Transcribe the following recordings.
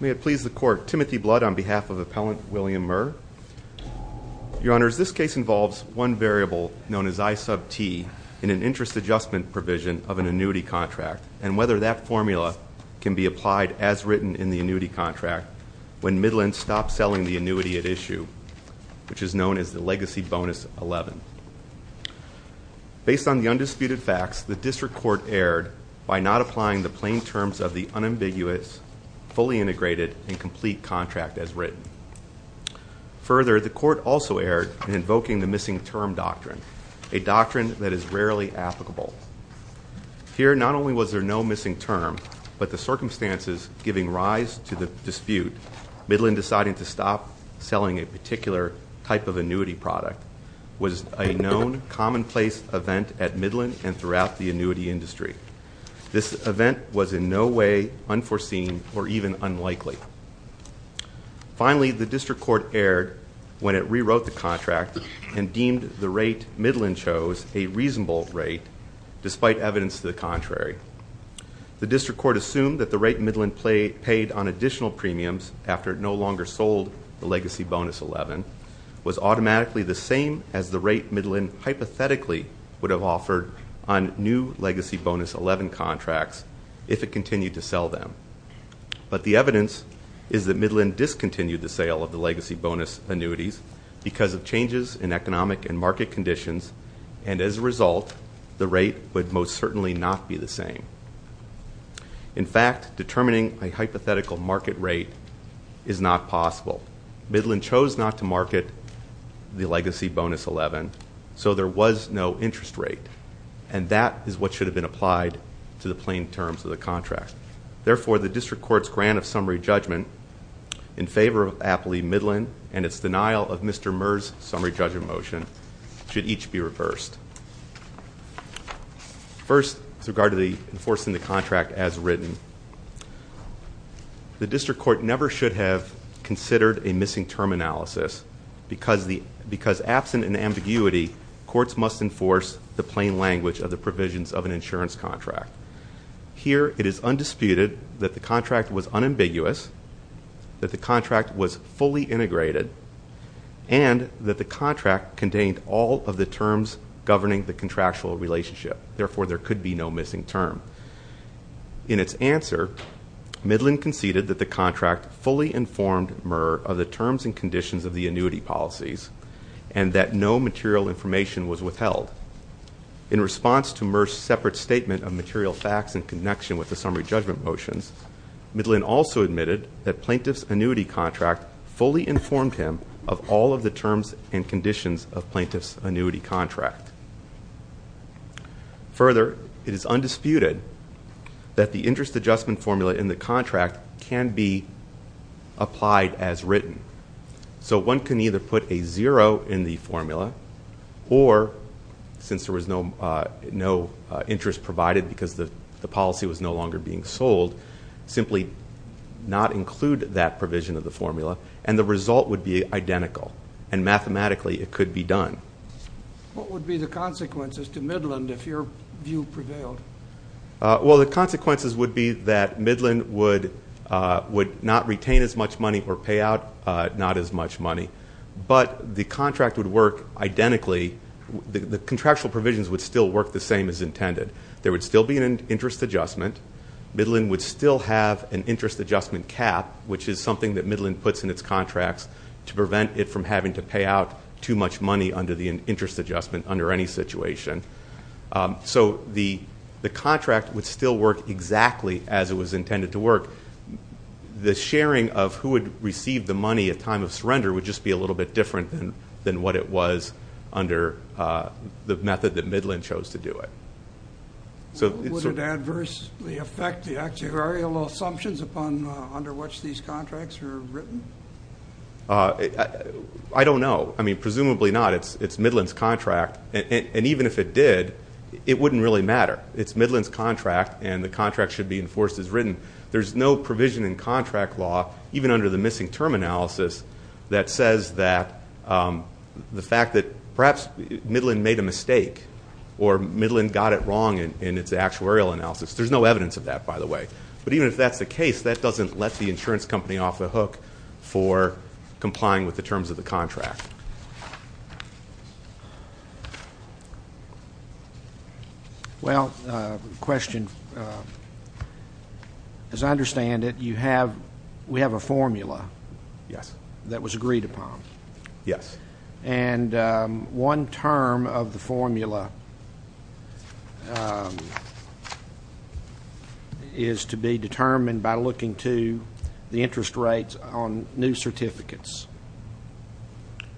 May it please the court, Timothy Blood on behalf of Appellant William Murr. Your Honors, this case involves one variable known as I sub T in an interest adjustment provision of an annuity contract, and whether that formula can be applied as written in the annuity contract when Midland stops selling the annuity at issue, which is known as the legacy bonus 11. Based on the undisputed facts, the district court erred by not applying the plain terms of the unambiguous, fully integrated, and complete contract as written. Further, the court also erred in invoking the missing term doctrine, a doctrine that is rarely applicable. Here, not only was there no missing term, but the circumstances giving rise to the dispute, Midland deciding to stop selling a particular type of annuity product was a known commonplace event at Midland and throughout the annuity industry. This event was in no way unforeseen or even unlikely. Finally, the district court erred when it rewrote the contract and deemed the rate Midland chose a reasonable rate, despite evidence to the contrary. The district court assumed that the rate Midland paid on additional premiums after it no longer sold the legacy bonus 11, was automatically the same as the rate Midland hypothetically would have offered on new legacy bonus 11 contracts if it continued to sell them. But the evidence is that Midland discontinued the sale of the legacy bonus annuities because of changes in economic and In fact, determining a hypothetical market rate is not possible. Midland chose not to market the legacy bonus 11, so there was no interest rate. And that is what should have been applied to the plain terms of the contract. Therefore, the district court's grant of summary judgment in favor of Appley Midland and its denial of Mr. Murr's summary judgment motion should each be reversed. First, with regard to enforcing the contract as written, the district court never should have considered a missing term analysis. Because absent an ambiguity, courts must enforce the plain language of the provisions of an insurance contract. Here, it is undisputed that the contract was unambiguous, that the contract was fully integrated, and that the contract contained all of the terms governing the contractual relationship. Therefore, there could be no missing term. In its answer, Midland conceded that the contract fully informed Murr of the terms and conditions of the annuity policies, and that no material information was withheld. In response to Murr's separate statement of material facts in connection with the summary judgment motions, Midland also admitted that plaintiff's annuity contract fully informed him of all of the terms and conditions of plaintiff's annuity contract. Further, it is undisputed that the interest adjustment formula in the contract can be applied as written. So one can either put a zero in the formula, or since there was no interest provided because the policy was no longer being sold, simply not include that provision of the formula, and the result would be identical. And mathematically, it could be done. What would be the consequences to Midland if your view prevailed? Well, the consequences would be that Midland would not retain as much money or pay out not as much money. But the contract would work identically, the contractual provisions would still work the same as intended. There would still be an interest adjustment. Midland would still have an interest adjustment cap, which is something that Midland puts in its contracts to prevent it from having to pay out too much money under the interest adjustment under any situation. So the contract would still work exactly as it was intended to work. The sharing of who would receive the money at time of surrender would just be a little bit different than what it was under the method that Midland chose to do it. So- Would it adversely affect the actuarial assumptions under which these contracts are written? I don't know. I mean, presumably not. It's Midland's contract, and even if it did, it wouldn't really matter. And there's no provision in contract law, even under the missing term analysis, that says that the fact that perhaps Midland made a mistake, or Midland got it wrong in its actuarial analysis, there's no evidence of that, by the way. But even if that's the case, that doesn't let the insurance company off the hook for complying with the terms of the contract. Well, question. As I understand it, you have, we have a formula. Yes. That was agreed upon. Yes. And one term of the formula is to be determined by looking to the interest rates on new certificates.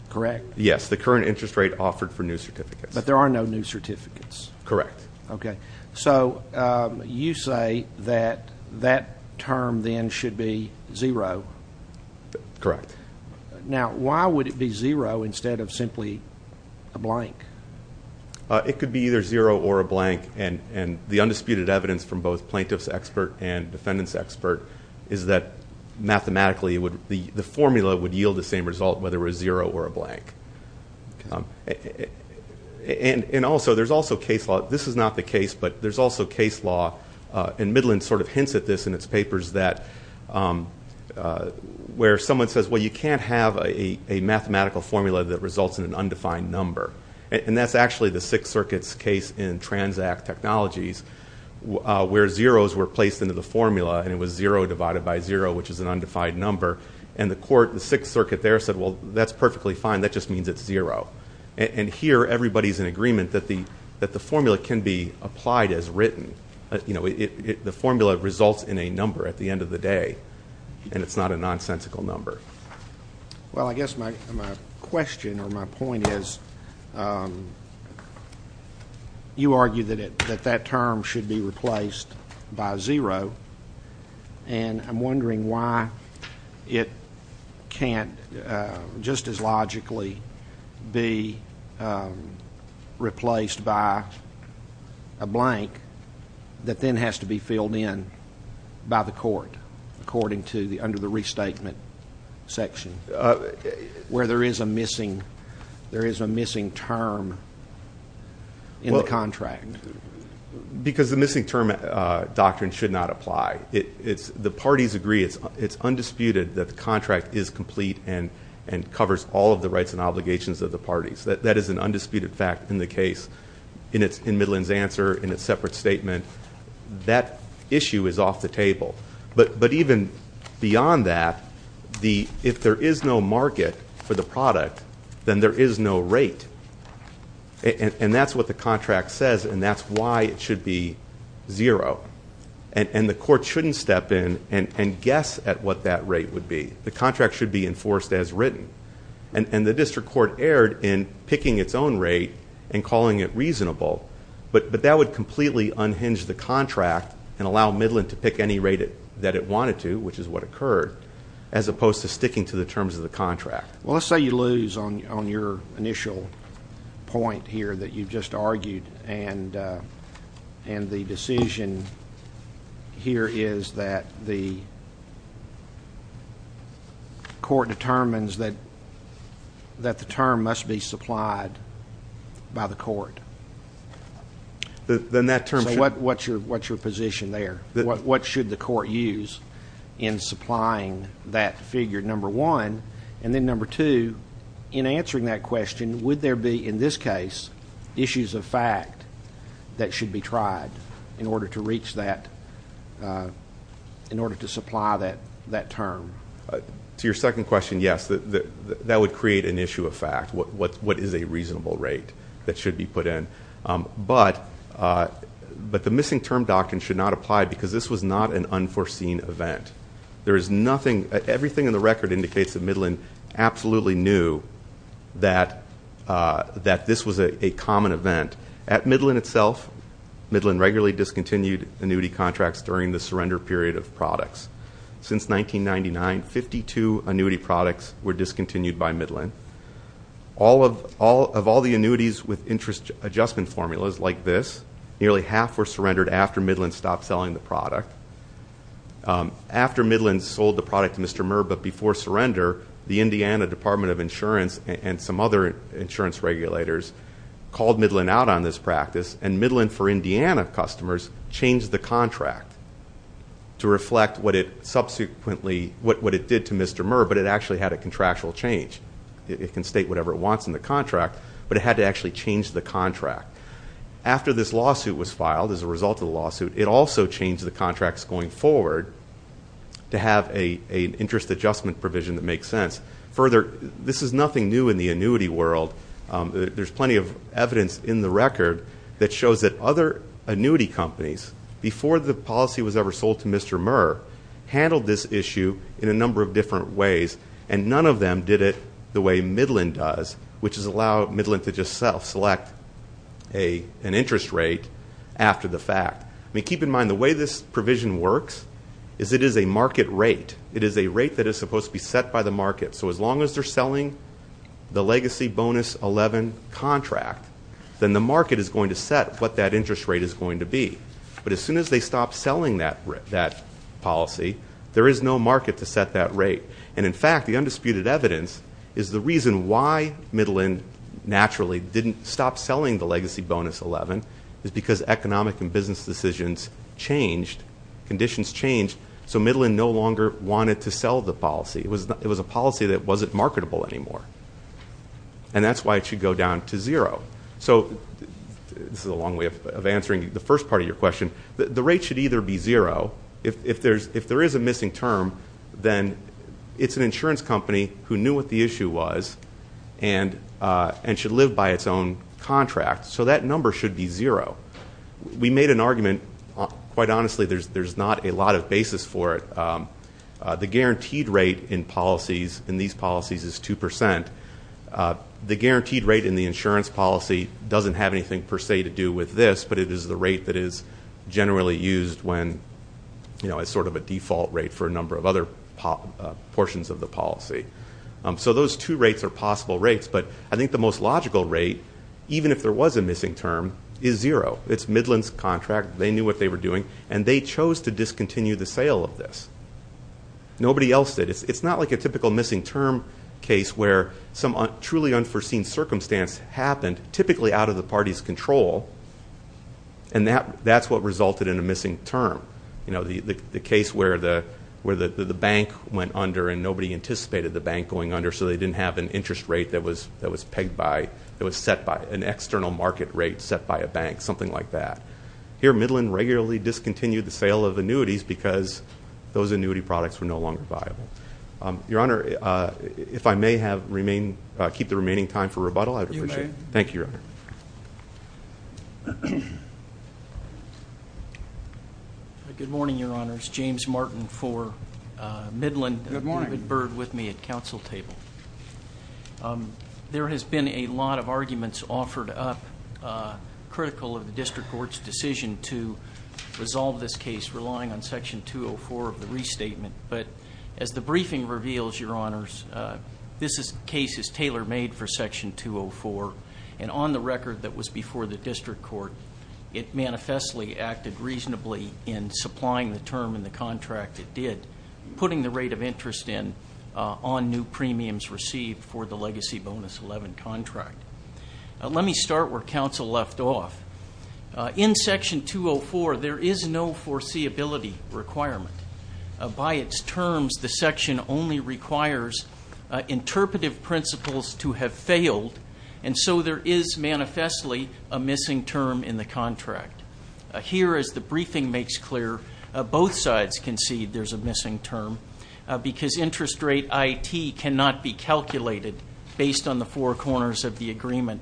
Correct. Yes, the current interest rate offered for new certificates. But there are no new certificates. Correct. Okay, so you say that that term then should be zero. Correct. Now, why would it be zero instead of simply a blank? It could be either zero or a blank, and the undisputed evidence from both plaintiff's expert and And also, there's also case law, this is not the case, but there's also case law, and Midland sort of hints at this in its papers that, where someone says, well, you can't have a mathematical formula that results in an undefined number. And that's actually the Sixth Circuit's case in Transact Technologies, where zeros were placed into the formula, and it was zero divided by zero, which is an undefined number. And the court, the Sixth Circuit there said, well, that's perfectly fine, that just means it's zero. And here, everybody's in agreement that the formula can be applied as written. You know, the formula results in a number at the end of the day, and it's not a nonsensical number. Well, I guess my question or my point is, you argue that that term should be replaced by zero. And I'm wondering why it can't just as logically be replaced by a blank that then has to be filled in by the court, according to the under the restatement section, where there is a missing term in the contract. Because the missing term doctrine should not apply. The parties agree, it's undisputed that the contract is complete and covers all of the rights and obligations of the parties. That is an undisputed fact in the case, in Midland's answer, in a separate statement. That issue is off the table. But even beyond that, if there is no market for the product, then there is no rate. And that's what the contract says, and that's why it should be zero. And the court shouldn't step in and guess at what that rate would be. The contract should be enforced as written. And the district court erred in picking its own rate and calling it reasonable. But that would completely unhinge the contract and allow Midland to pick any rate that it wanted to, which is what occurred, as opposed to sticking to the terms of the contract. Well, let's say you lose on your initial point here that you've just argued. And the decision here is that the court determines that the term must be supplied by the court. Then that term should- So what's your position there? What should the court use in supplying that figure, number one? And then number two, in answering that question, would there be, in this case, issues of fact that should be tried in order to reach that, in order to supply that term? To your second question, yes. That would create an issue of fact, what is a reasonable rate that should be put in. But the missing term doctrine should not apply because this was not an unforeseen event. There is nothing, everything in the record indicates that Midland absolutely knew that this was a common event. At Midland itself, Midland regularly discontinued annuity contracts during the surrender period of products. Since 1999, 52 annuity products were discontinued by Midland. Of all the annuities with interest adjustment formulas like this, nearly half were surrendered after Midland stopped selling the product. After Midland sold the product to Mr. Murr, but before surrender, the Indiana Department of Insurance and some other insurance regulators called Midland out on this practice. And Midland, for Indiana customers, changed the contract to reflect what it subsequently- it can state whatever it wants in the contract, but it had to actually change the contract. After this lawsuit was filed as a result of the lawsuit, it also changed the contracts going forward to have an interest adjustment provision that makes sense. Further, this is nothing new in the annuity world. There's plenty of evidence in the record that shows that other annuity companies, before the policy was ever sold to Mr. Murr, handled this issue in a number of different ways, and none of them did it the way Midland does, which is allow Midland to just sell, select an interest rate after the fact. I mean, keep in mind, the way this provision works is it is a market rate. It is a rate that is supposed to be set by the market. So as long as they're selling the legacy bonus 11 contract, then the market is going to set what that interest rate is going to be. But as soon as they stop selling that policy, there is no market to set that rate. And, in fact, the undisputed evidence is the reason why Midland naturally didn't stop selling the legacy bonus 11 is because economic and business decisions changed, conditions changed, so Midland no longer wanted to sell the policy. It was a policy that wasn't marketable anymore. And that's why it should go down to zero. So this is a long way of answering the first part of your question. The rate should either be zero. If there is a missing term, then it's an insurance company who knew what the issue was and should live by its own contract. So that number should be zero. We made an argument. Quite honestly, there's not a lot of basis for it. The guaranteed rate in policies, in these policies, is 2%. The guaranteed rate in the insurance policy doesn't have anything per se to do with this, but it is the rate that is generally used as sort of a default rate for a number of other portions of the policy. So those two rates are possible rates. But I think the most logical rate, even if there was a missing term, is zero. It's Midland's contract. They knew what they were doing, and they chose to discontinue the sale of this. Nobody else did. It's not like a typical missing term case where some truly unforeseen circumstance happened, typically out of the party's control, and that's what resulted in a missing term. You know, the case where the bank went under and nobody anticipated the bank going under, so they didn't have an interest rate that was set by an external market rate set by a bank, something like that. Here, Midland regularly discontinued the sale of annuities because those annuity products were no longer viable. Your Honor, if I may keep the remaining time for rebuttal, I would appreciate it. Thank you, Your Honor. Good morning, Your Honors. James Martin for Midland. Good morning. David Bird with me at council table. There has been a lot of arguments offered up critical of the district court's decision to resolve this case, relying on Section 204 of the restatement. But as the briefing reveals, Your Honors, this case is tailor-made for Section 204, and on the record that was before the district court, it manifestly acted reasonably in supplying the term in the contract it did, putting the rate of interest in on new premiums received for the legacy bonus 11 contract. Let me start where council left off. In Section 204, there is no foreseeability requirement. By its terms, the section only requires interpretive principles to have failed, and so there is manifestly a missing term in the contract. Here, as the briefing makes clear, both sides concede there's a missing term because interest rate IT cannot be calculated based on the four corners of the agreement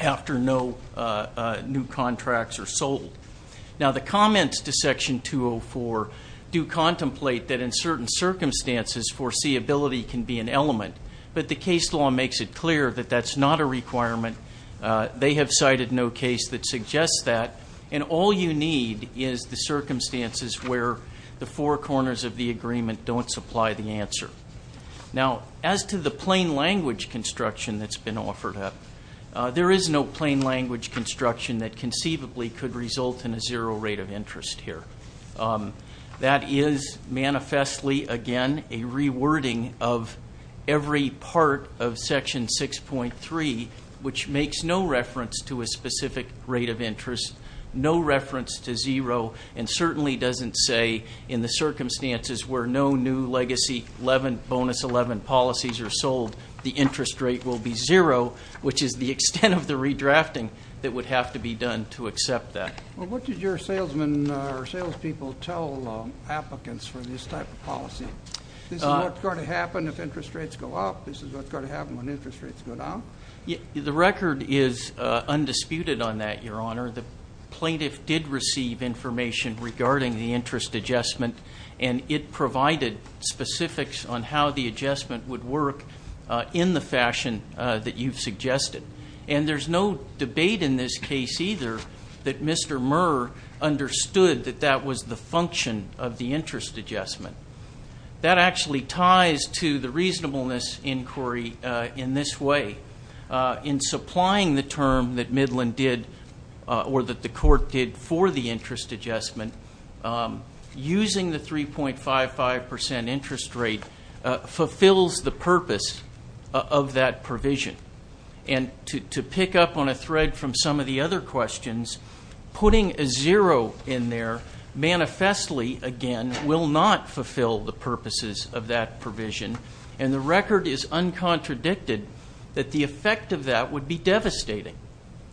after no new contracts are sold. Now, the comments to Section 204 do contemplate that in certain circumstances, foreseeability can be an element, but the case law makes it clear that that's not a requirement. They have cited no case that suggests that, and all you need is the circumstances where the four corners of the agreement don't supply the answer. Now, as to the plain language construction that's been offered up, there is no plain language construction that conceivably could result in a zero rate of interest here. That is manifestly, again, a rewording of every part of Section 6.3, which makes no reference to a specific rate of interest, no reference to zero, and certainly doesn't say in the circumstances where no new Legacy 11, Bonus 11 policies are sold, the interest rate will be zero, which is the extent of the redrafting that would have to be done to accept that. Well, what did your salesmen or salespeople tell applicants for this type of policy? This is what's going to happen if interest rates go up. This is what's going to happen when interest rates go down. The record is undisputed on that, Your Honor. The plaintiff did receive information regarding the interest adjustment, and it provided specifics on how the adjustment would work in the fashion that you've suggested. And there's no debate in this case either that Mr. Murr understood that that was the function of the interest adjustment. That actually ties to the reasonableness inquiry in this way. In supplying the term that Midland did or that the court did for the interest adjustment, using the 3.55 percent interest rate fulfills the purpose of that provision. And to pick up on a thread from some of the other questions, putting a zero in there manifestly, again, will not fulfill the purposes of that provision. And the record is uncontradicted that the effect of that would be devastating.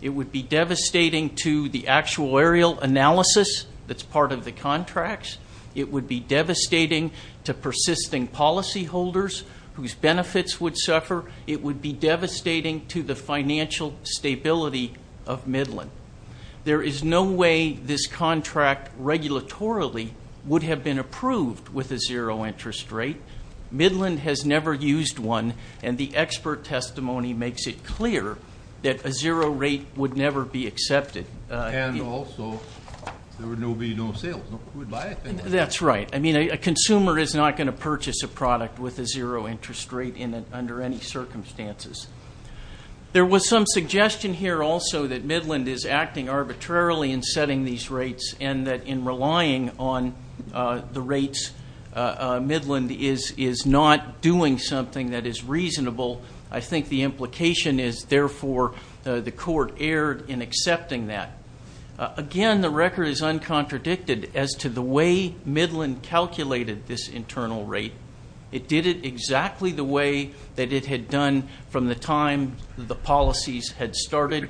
It would be devastating to the actuarial analysis that's part of the contracts. It would be devastating to persisting policyholders whose benefits would suffer. It would be devastating to the financial stability of Midland. There is no way this contract regulatorily would have been approved with a zero interest rate. Midland has never used one. And the expert testimony makes it clear that a zero rate would never be accepted. And also there would be no sales. That's right. I mean, a consumer is not going to purchase a product with a zero interest rate under any circumstances. There was some suggestion here also that Midland is acting arbitrarily in setting these rates and that in relying on the rates, Midland is not doing something that is reasonable. I think the implication is, therefore, the court erred in accepting that. Again, the record is uncontradicted as to the way Midland calculated this internal rate. It did it exactly the way that it had done from the time the policies had started.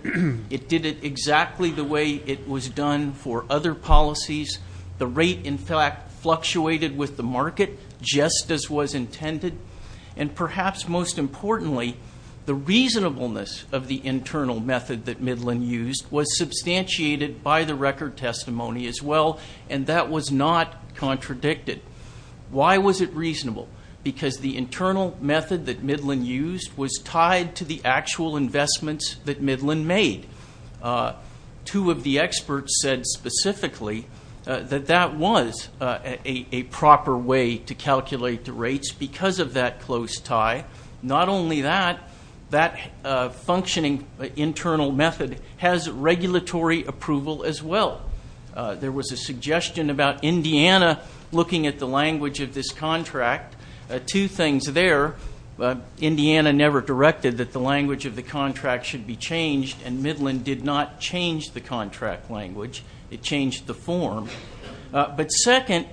It did it exactly the way it was done for other policies. The rate, in fact, fluctuated with the market just as was intended. And perhaps most importantly, the reasonableness of the internal method that Midland used was substantiated by the record testimony as well, and that was not contradicted. Why was it reasonable? Because the internal method that Midland used was tied to the actual investments that Midland made. Two of the experts said specifically that that was a proper way to calculate the rates because of that close tie. Not only that, that functioning internal method has regulatory approval as well. There was a suggestion about Indiana looking at the language of this contract. Two things there. Indiana never directed that the language of the contract should be changed, and Midland did not change the contract language. It changed the form. But second,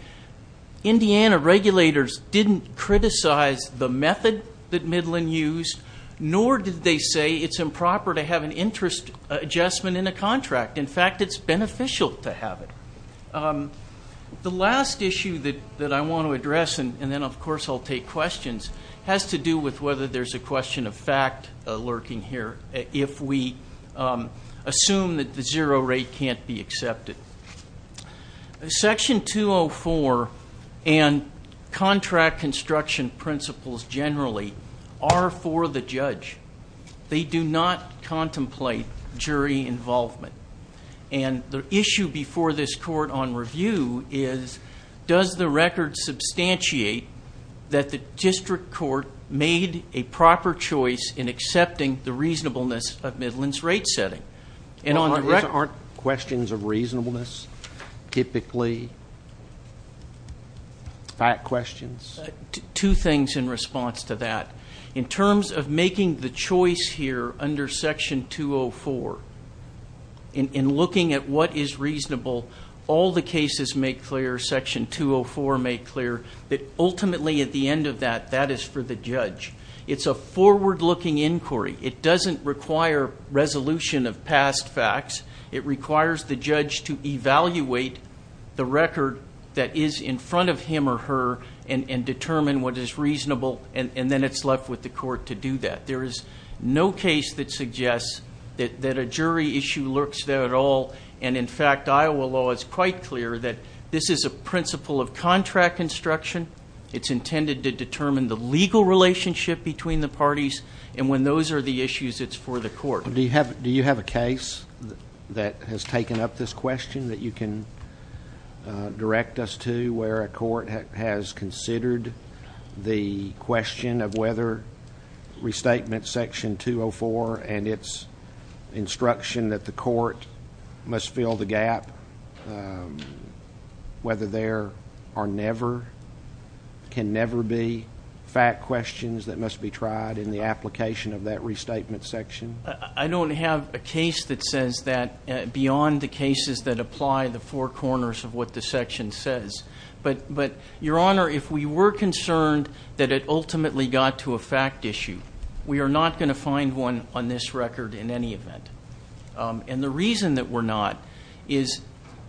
Indiana regulators didn't criticize the method that Midland used, nor did they say it's improper to have an interest adjustment in a contract. In fact, it's beneficial to have it. The last issue that I want to address, and then, of course, I'll take questions, has to do with whether there's a question of fact lurking here if we assume that the zero rate can't be accepted. Section 204 and contract construction principles generally are for the judge. They do not contemplate jury involvement. And the issue before this court on review is, does the record substantiate that the district court made a proper choice in accepting the reasonableness of Midland's rate setting? Aren't questions of reasonableness typically fact questions? Two things in response to that. In terms of making the choice here under Section 204, in looking at what is reasonable, all the cases make clear, Section 204 make clear, that ultimately at the end of that, that is for the judge. It's a forward-looking inquiry. It doesn't require resolution of past facts. It requires the judge to evaluate the record that is in front of him or her and determine what is reasonable, and then it's left with the court to do that. There is no case that suggests that a jury issue lurks there at all. And, in fact, Iowa law is quite clear that this is a principle of contract construction. It's intended to determine the legal relationship between the parties. And when those are the issues, it's for the court. Do you have a case that has taken up this question that you can direct us to where a court has considered the question of whether restatement Section 204 and its instruction that the court must fill the gap, whether there are never, can never be fact questions that must be tried in the application of that restatement section? I don't have a case that says that beyond the cases that apply the four corners of what the section says. But, Your Honor, if we were concerned that it ultimately got to a fact issue, we are not going to find one on this record in any event. And the reason that we're not is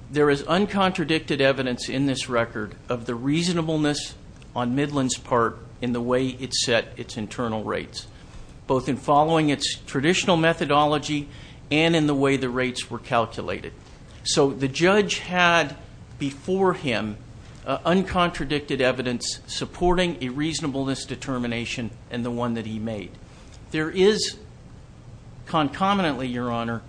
there is uncontradicted evidence in this record of the reasonableness on Midland's part in the way it set its internal rates, both in following its traditional methodology and in the way the rates were calculated. So the judge had before him uncontradicted evidence supporting a reasonableness determination and the one that he made. There is concomitantly, Your Honor,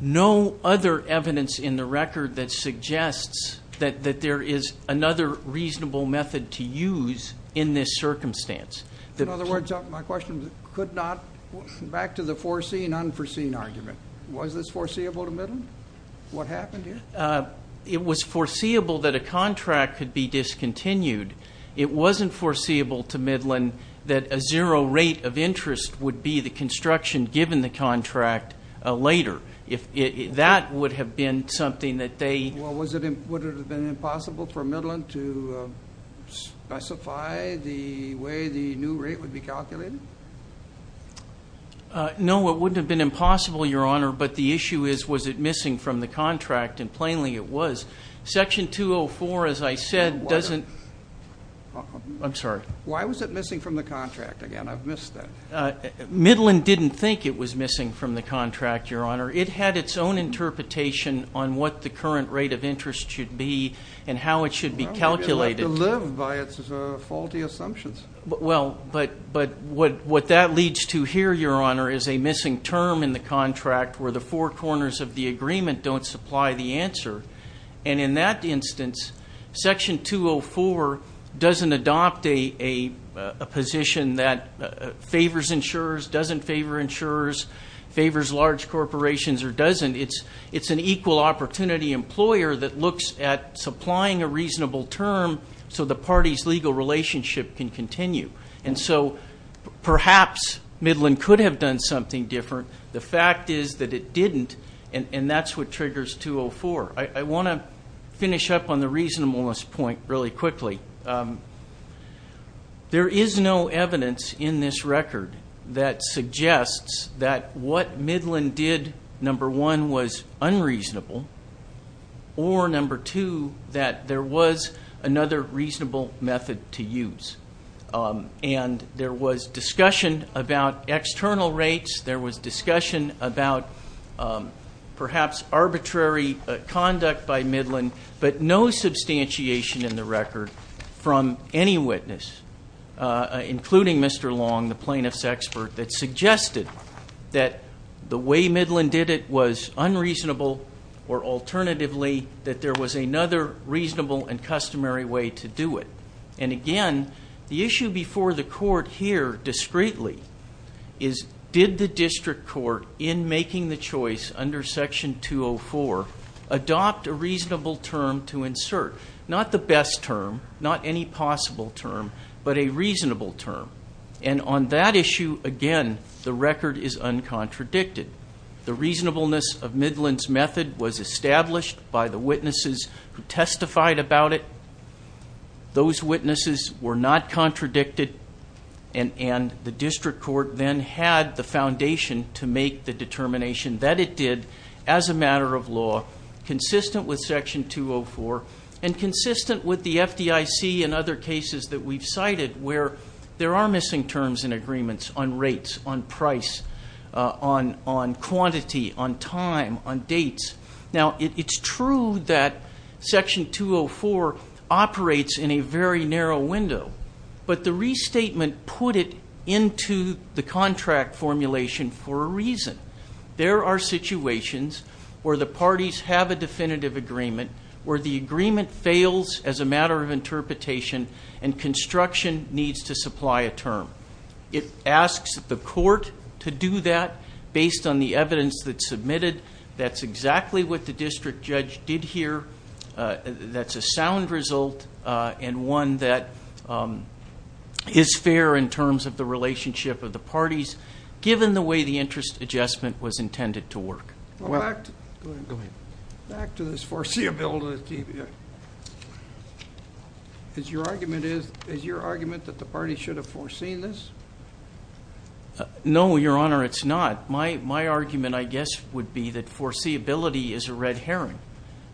no other evidence in the record that suggests that there is another reasonable method to use in this circumstance. In other words, my question could not, back to the foreseen, unforeseen argument. Was this foreseeable to Midland? What happened here? It was foreseeable that a contract could be discontinued. It wasn't foreseeable to Midland that a zero rate of interest would be the construction given the contract later. That would have been something that they – Well, would it have been impossible for Midland to specify the way the new rate would be calculated? No, it wouldn't have been impossible, Your Honor. But the issue is was it missing from the contract, and plainly it was. Section 204, as I said, doesn't – I'm sorry. Why was it missing from the contract? Again, I've missed that. Midland didn't think it was missing from the contract, Your Honor. It had its own interpretation on what the current rate of interest should be and how it should be calculated. Well, it didn't have to live by its faulty assumptions. Well, but what that leads to here, Your Honor, is a missing term in the contract where the four corners of the agreement don't supply the answer. And in that instance, Section 204 doesn't adopt a position that favors insurers, doesn't favor insurers, favors large corporations, or doesn't. It's an equal opportunity employer that looks at supplying a reasonable term so the party's legal relationship can continue. And so perhaps Midland could have done something different. The fact is that it didn't, and that's what triggers 204. I want to finish up on the reasonableness point really quickly. There is no evidence in this record that suggests that what Midland did, number one, was unreasonable, or, number two, that there was another reasonable method to use. And there was discussion about external rates. There was discussion about perhaps arbitrary conduct by Midland, but no substantiation in the record from any witness, including Mr. Long, the plaintiff's expert, that suggested that the way Midland did it was unreasonable, or, alternatively, that there was another reasonable and customary way to do it. And, again, the issue before the court here, discreetly, is did the district court in making the choice under Section 204 adopt a reasonable term to insert? Not the best term, not any possible term, but a reasonable term. And on that issue, again, the record is uncontradicted. The reasonableness of Midland's method was established by the witnesses who testified about it. Those witnesses were not contradicted, and the district court then had the foundation to make the determination that it did as a matter of law, consistent with Section 204 and consistent with the FDIC and other cases that we've cited where there are missing terms in agreements on rates, on price, on quantity, on time, on dates. Now, it's true that Section 204 operates in a very narrow window, but the restatement put it into the contract formulation for a reason. There are situations where the parties have a definitive agreement, where the agreement fails as a matter of interpretation and construction needs to supply a term. It asks the court to do that based on the evidence that's submitted. That's exactly what the district judge did here. That's a sound result and one that is fair in terms of the relationship of the parties, given the way the interest adjustment was intended to work. Go ahead. Back to this foreseeability. Is your argument that the parties should have foreseen this? No, Your Honor, it's not. My argument, I guess, would be that foreseeability is a red herring.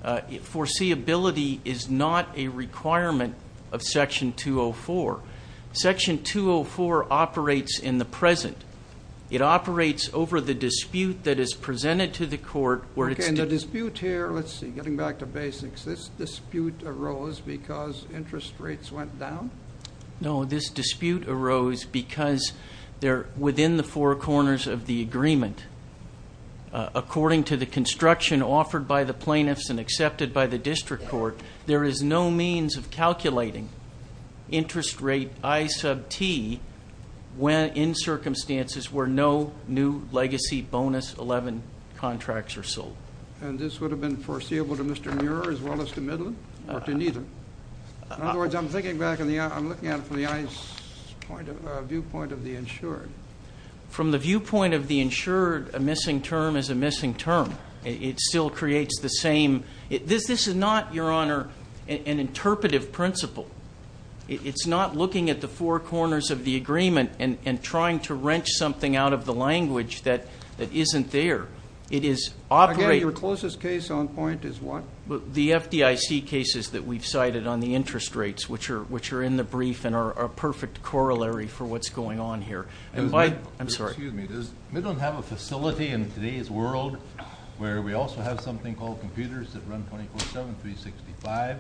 Foreseeability is not a requirement of Section 204. Section 204 operates in the present. It operates over the dispute that is presented to the court. Okay, and the dispute here, let's see, getting back to basics, this dispute arose because interest rates went down? No, this dispute arose because they're within the four corners of the agreement. According to the construction offered by the plaintiffs and accepted by the district court, there is no means of calculating interest rate I sub T in circumstances where no new legacy bonus 11 contracts are sold. And this would have been foreseeable to Mr. Muir as well as to Midland or to neither? In other words, I'm looking at it from the viewpoint of the insured. From the viewpoint of the insured, a missing term is a missing term. It still creates the same. This is not, Your Honor, an interpretive principle. It's not looking at the four corners of the agreement and trying to wrench something out of the language that isn't there. It is operating. Again, your closest case on point is what? The FDIC cases that we've cited on the interest rates, which are in the brief and are a perfect corollary for what's going on here. Excuse me, does Midland have a facility in today's world where we also have something called computers that run 24-7, 365,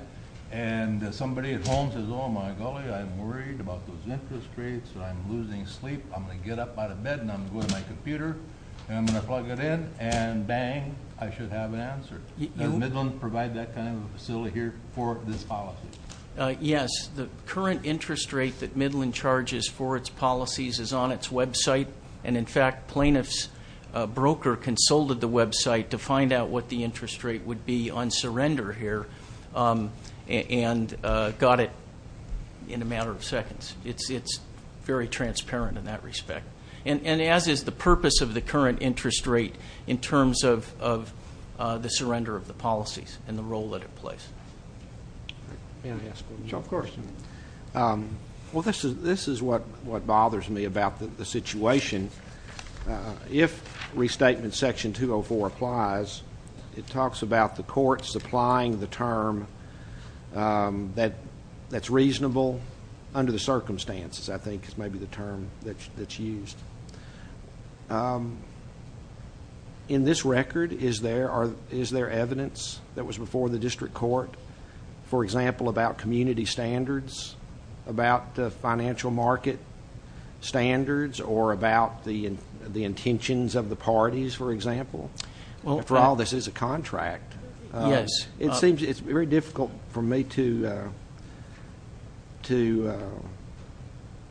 and somebody at home says, oh, my golly, I'm worried about those interest rates or I'm losing sleep, I'm going to get up out of bed and I'm going to go to my computer and I'm going to plug it in and bang, I should have an answer. Does Midland provide that kind of facility here for this policy? Yes. The current interest rate that Midland charges for its policies is on its website, and in fact plaintiff's broker consulted the website to find out what the interest rate would be on surrender here and got it in a matter of seconds. It's very transparent in that respect. And as is the purpose of the current interest rate in terms of the surrender of the policies and the role that it plays. May I ask one more question? Of course. Well, this is what bothers me about the situation. If Restatement Section 204 applies, it talks about the court supplying the term that's reasonable under the circumstances, I think is maybe the term that's used. In this record, is there evidence that was before the district court, for example, about community standards, about the financial market standards, or about the intentions of the parties, for example? After all, this is a contract. Yes. It seems it's very difficult for me to,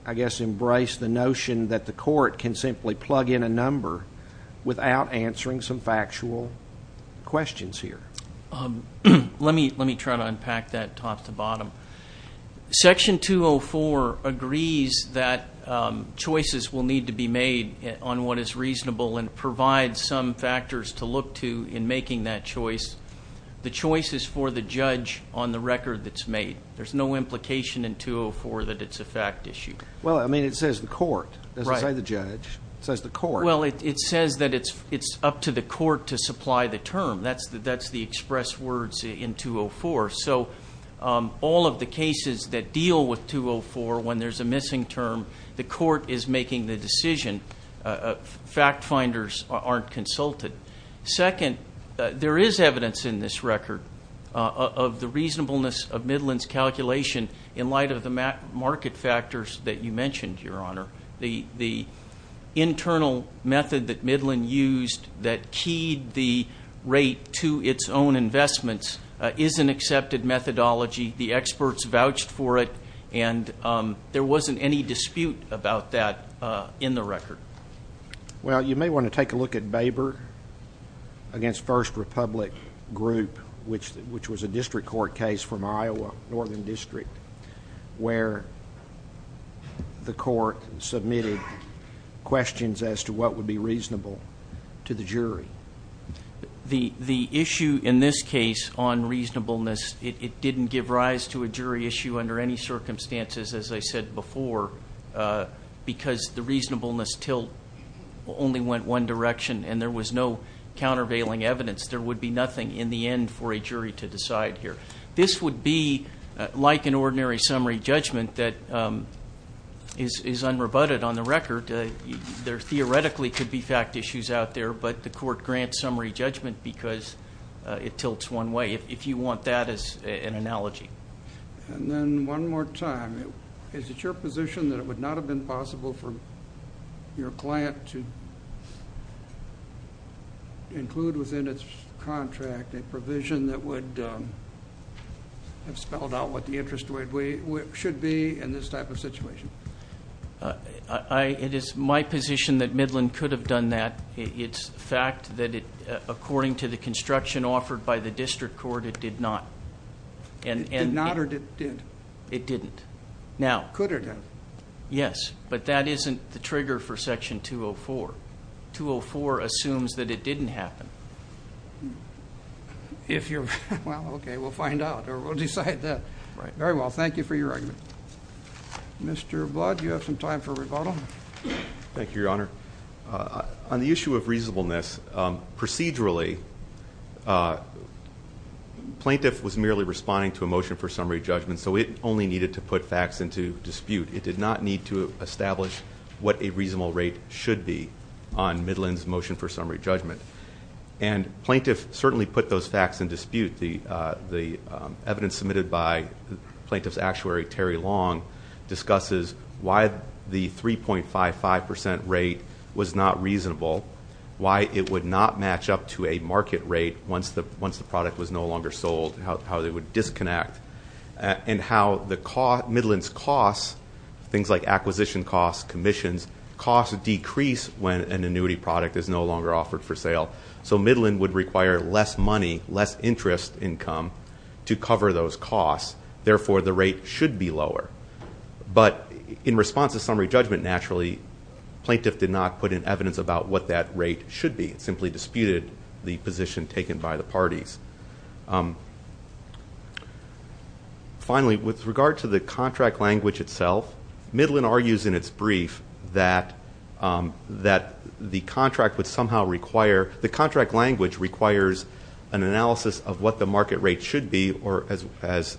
I guess, embrace the notion that the court can simply plug in a number without answering some factual questions here. Let me try to unpack that top to bottom. Section 204 agrees that choices will need to be made on what is reasonable and provides some factors to look to in making that choice. The choice is for the judge on the record that's made. There's no implication in 204 that it's a fact issue. Well, I mean, it says the court. Right. It doesn't say the judge. It says the court. Well, it says that it's up to the court to supply the term. That's the express words in 204. So all of the cases that deal with 204 when there's a missing term, the court is making the decision. Fact finders aren't consulted. Second, there is evidence in this record of the reasonableness of Midland's calculation in light of the market factors that you mentioned, Your Honor. The internal method that Midland used that keyed the rate to its own investments is an accepted methodology. The experts vouched for it, and there wasn't any dispute about that in the record. Well, you may want to take a look at Baber against First Republic Group, which was a district court case from Iowa, Northern District, where the court submitted questions as to what would be reasonable to the jury. The issue in this case on reasonableness, it didn't give rise to a jury issue under any circumstances, as I said before, because the reasonableness tilt only went one direction, and there was no countervailing evidence. There would be nothing in the end for a jury to decide here. This would be like an ordinary summary judgment that is unrebutted on the record. There theoretically could be fact issues out there, but the court grants summary judgment because it tilts one way, if you want that as an analogy. And then one more time, is it your position that it would not have been possible for your client to include within its contract a provision that would have spelled out what the interest rate should be in this type of situation? It is my position that Midland could have done that. It's a fact that according to the construction offered by the district court, it did not. It did not or it did? It didn't. Could or didn't? Yes, but that isn't the trigger for Section 204. 204 assumes that it didn't happen. Well, okay, we'll find out or we'll decide that. Very well. Thank you for your argument. Mr. Blood, you have some time for rebuttal. Thank you, Your Honor. On the issue of reasonableness, procedurally, plaintiff was merely responding to a motion for summary judgment, and so it only needed to put facts into dispute. It did not need to establish what a reasonable rate should be on Midland's motion for summary judgment. And plaintiff certainly put those facts in dispute. The evidence submitted by plaintiff's actuary, Terry Long, discusses why the 3.55% rate was not reasonable, why it would not match up to a market rate once the product was no longer sold, how they would disconnect, and how Midland's costs, things like acquisition costs, commissions, costs decrease when an annuity product is no longer offered for sale. So Midland would require less money, less interest income to cover those costs. Therefore, the rate should be lower. But in response to summary judgment, naturally, plaintiff did not put in evidence about what that rate should be. It simply disputed the position taken by the parties. Finally, with regard to the contract language itself, Midland argues in its brief that the contract would somehow require the contract language requires an analysis of what the market rate should be or, as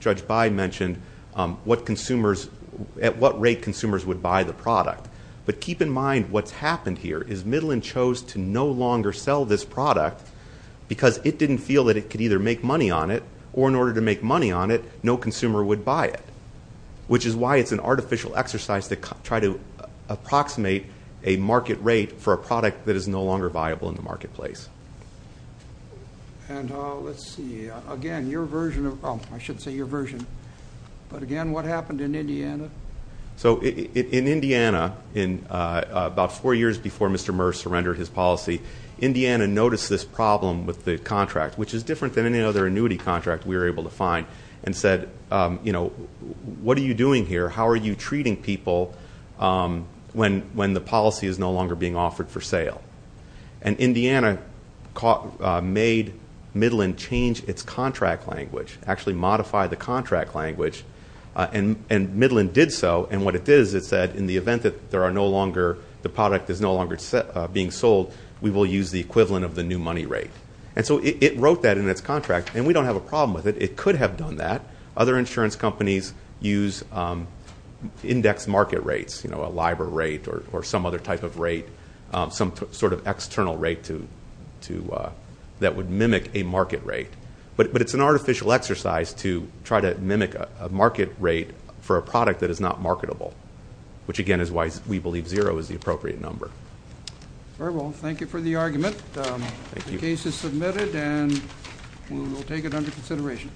Judge By mentioned, at what rate consumers would buy the product. But keep in mind what's happened here is Midland chose to no longer sell this product because it didn't feel that it could either make money on it, or in order to make money on it, no consumer would buy it, which is why it's an artificial exercise to try to approximate a market rate for a product that is no longer viable in the marketplace. And let's see. Again, your version of – oh, I should say your version. But again, what happened in Indiana? So in Indiana, about four years before Mr. Murr surrendered his policy, Indiana noticed this problem with the contract, which is different than any other annuity contract we were able to find, and said, you know, what are you doing here? How are you treating people when the policy is no longer being offered for sale? And Indiana made Midland change its contract language, actually modify the contract language, and Midland did so. And what it did is it said in the event that there are no longer – the product is no longer being sold, we will use the equivalent of the new money rate. And so it wrote that in its contract, and we don't have a problem with it. It could have done that. Other insurance companies use index market rates, you know, a LIBOR rate or some other type of rate, some sort of external rate to – that would mimic a market rate. But it's an artificial exercise to try to mimic a market rate for a product that is not marketable, which again is why we believe zero is the appropriate number. Thank you for the argument. Thank you. This is submitted, and we will take it under consideration.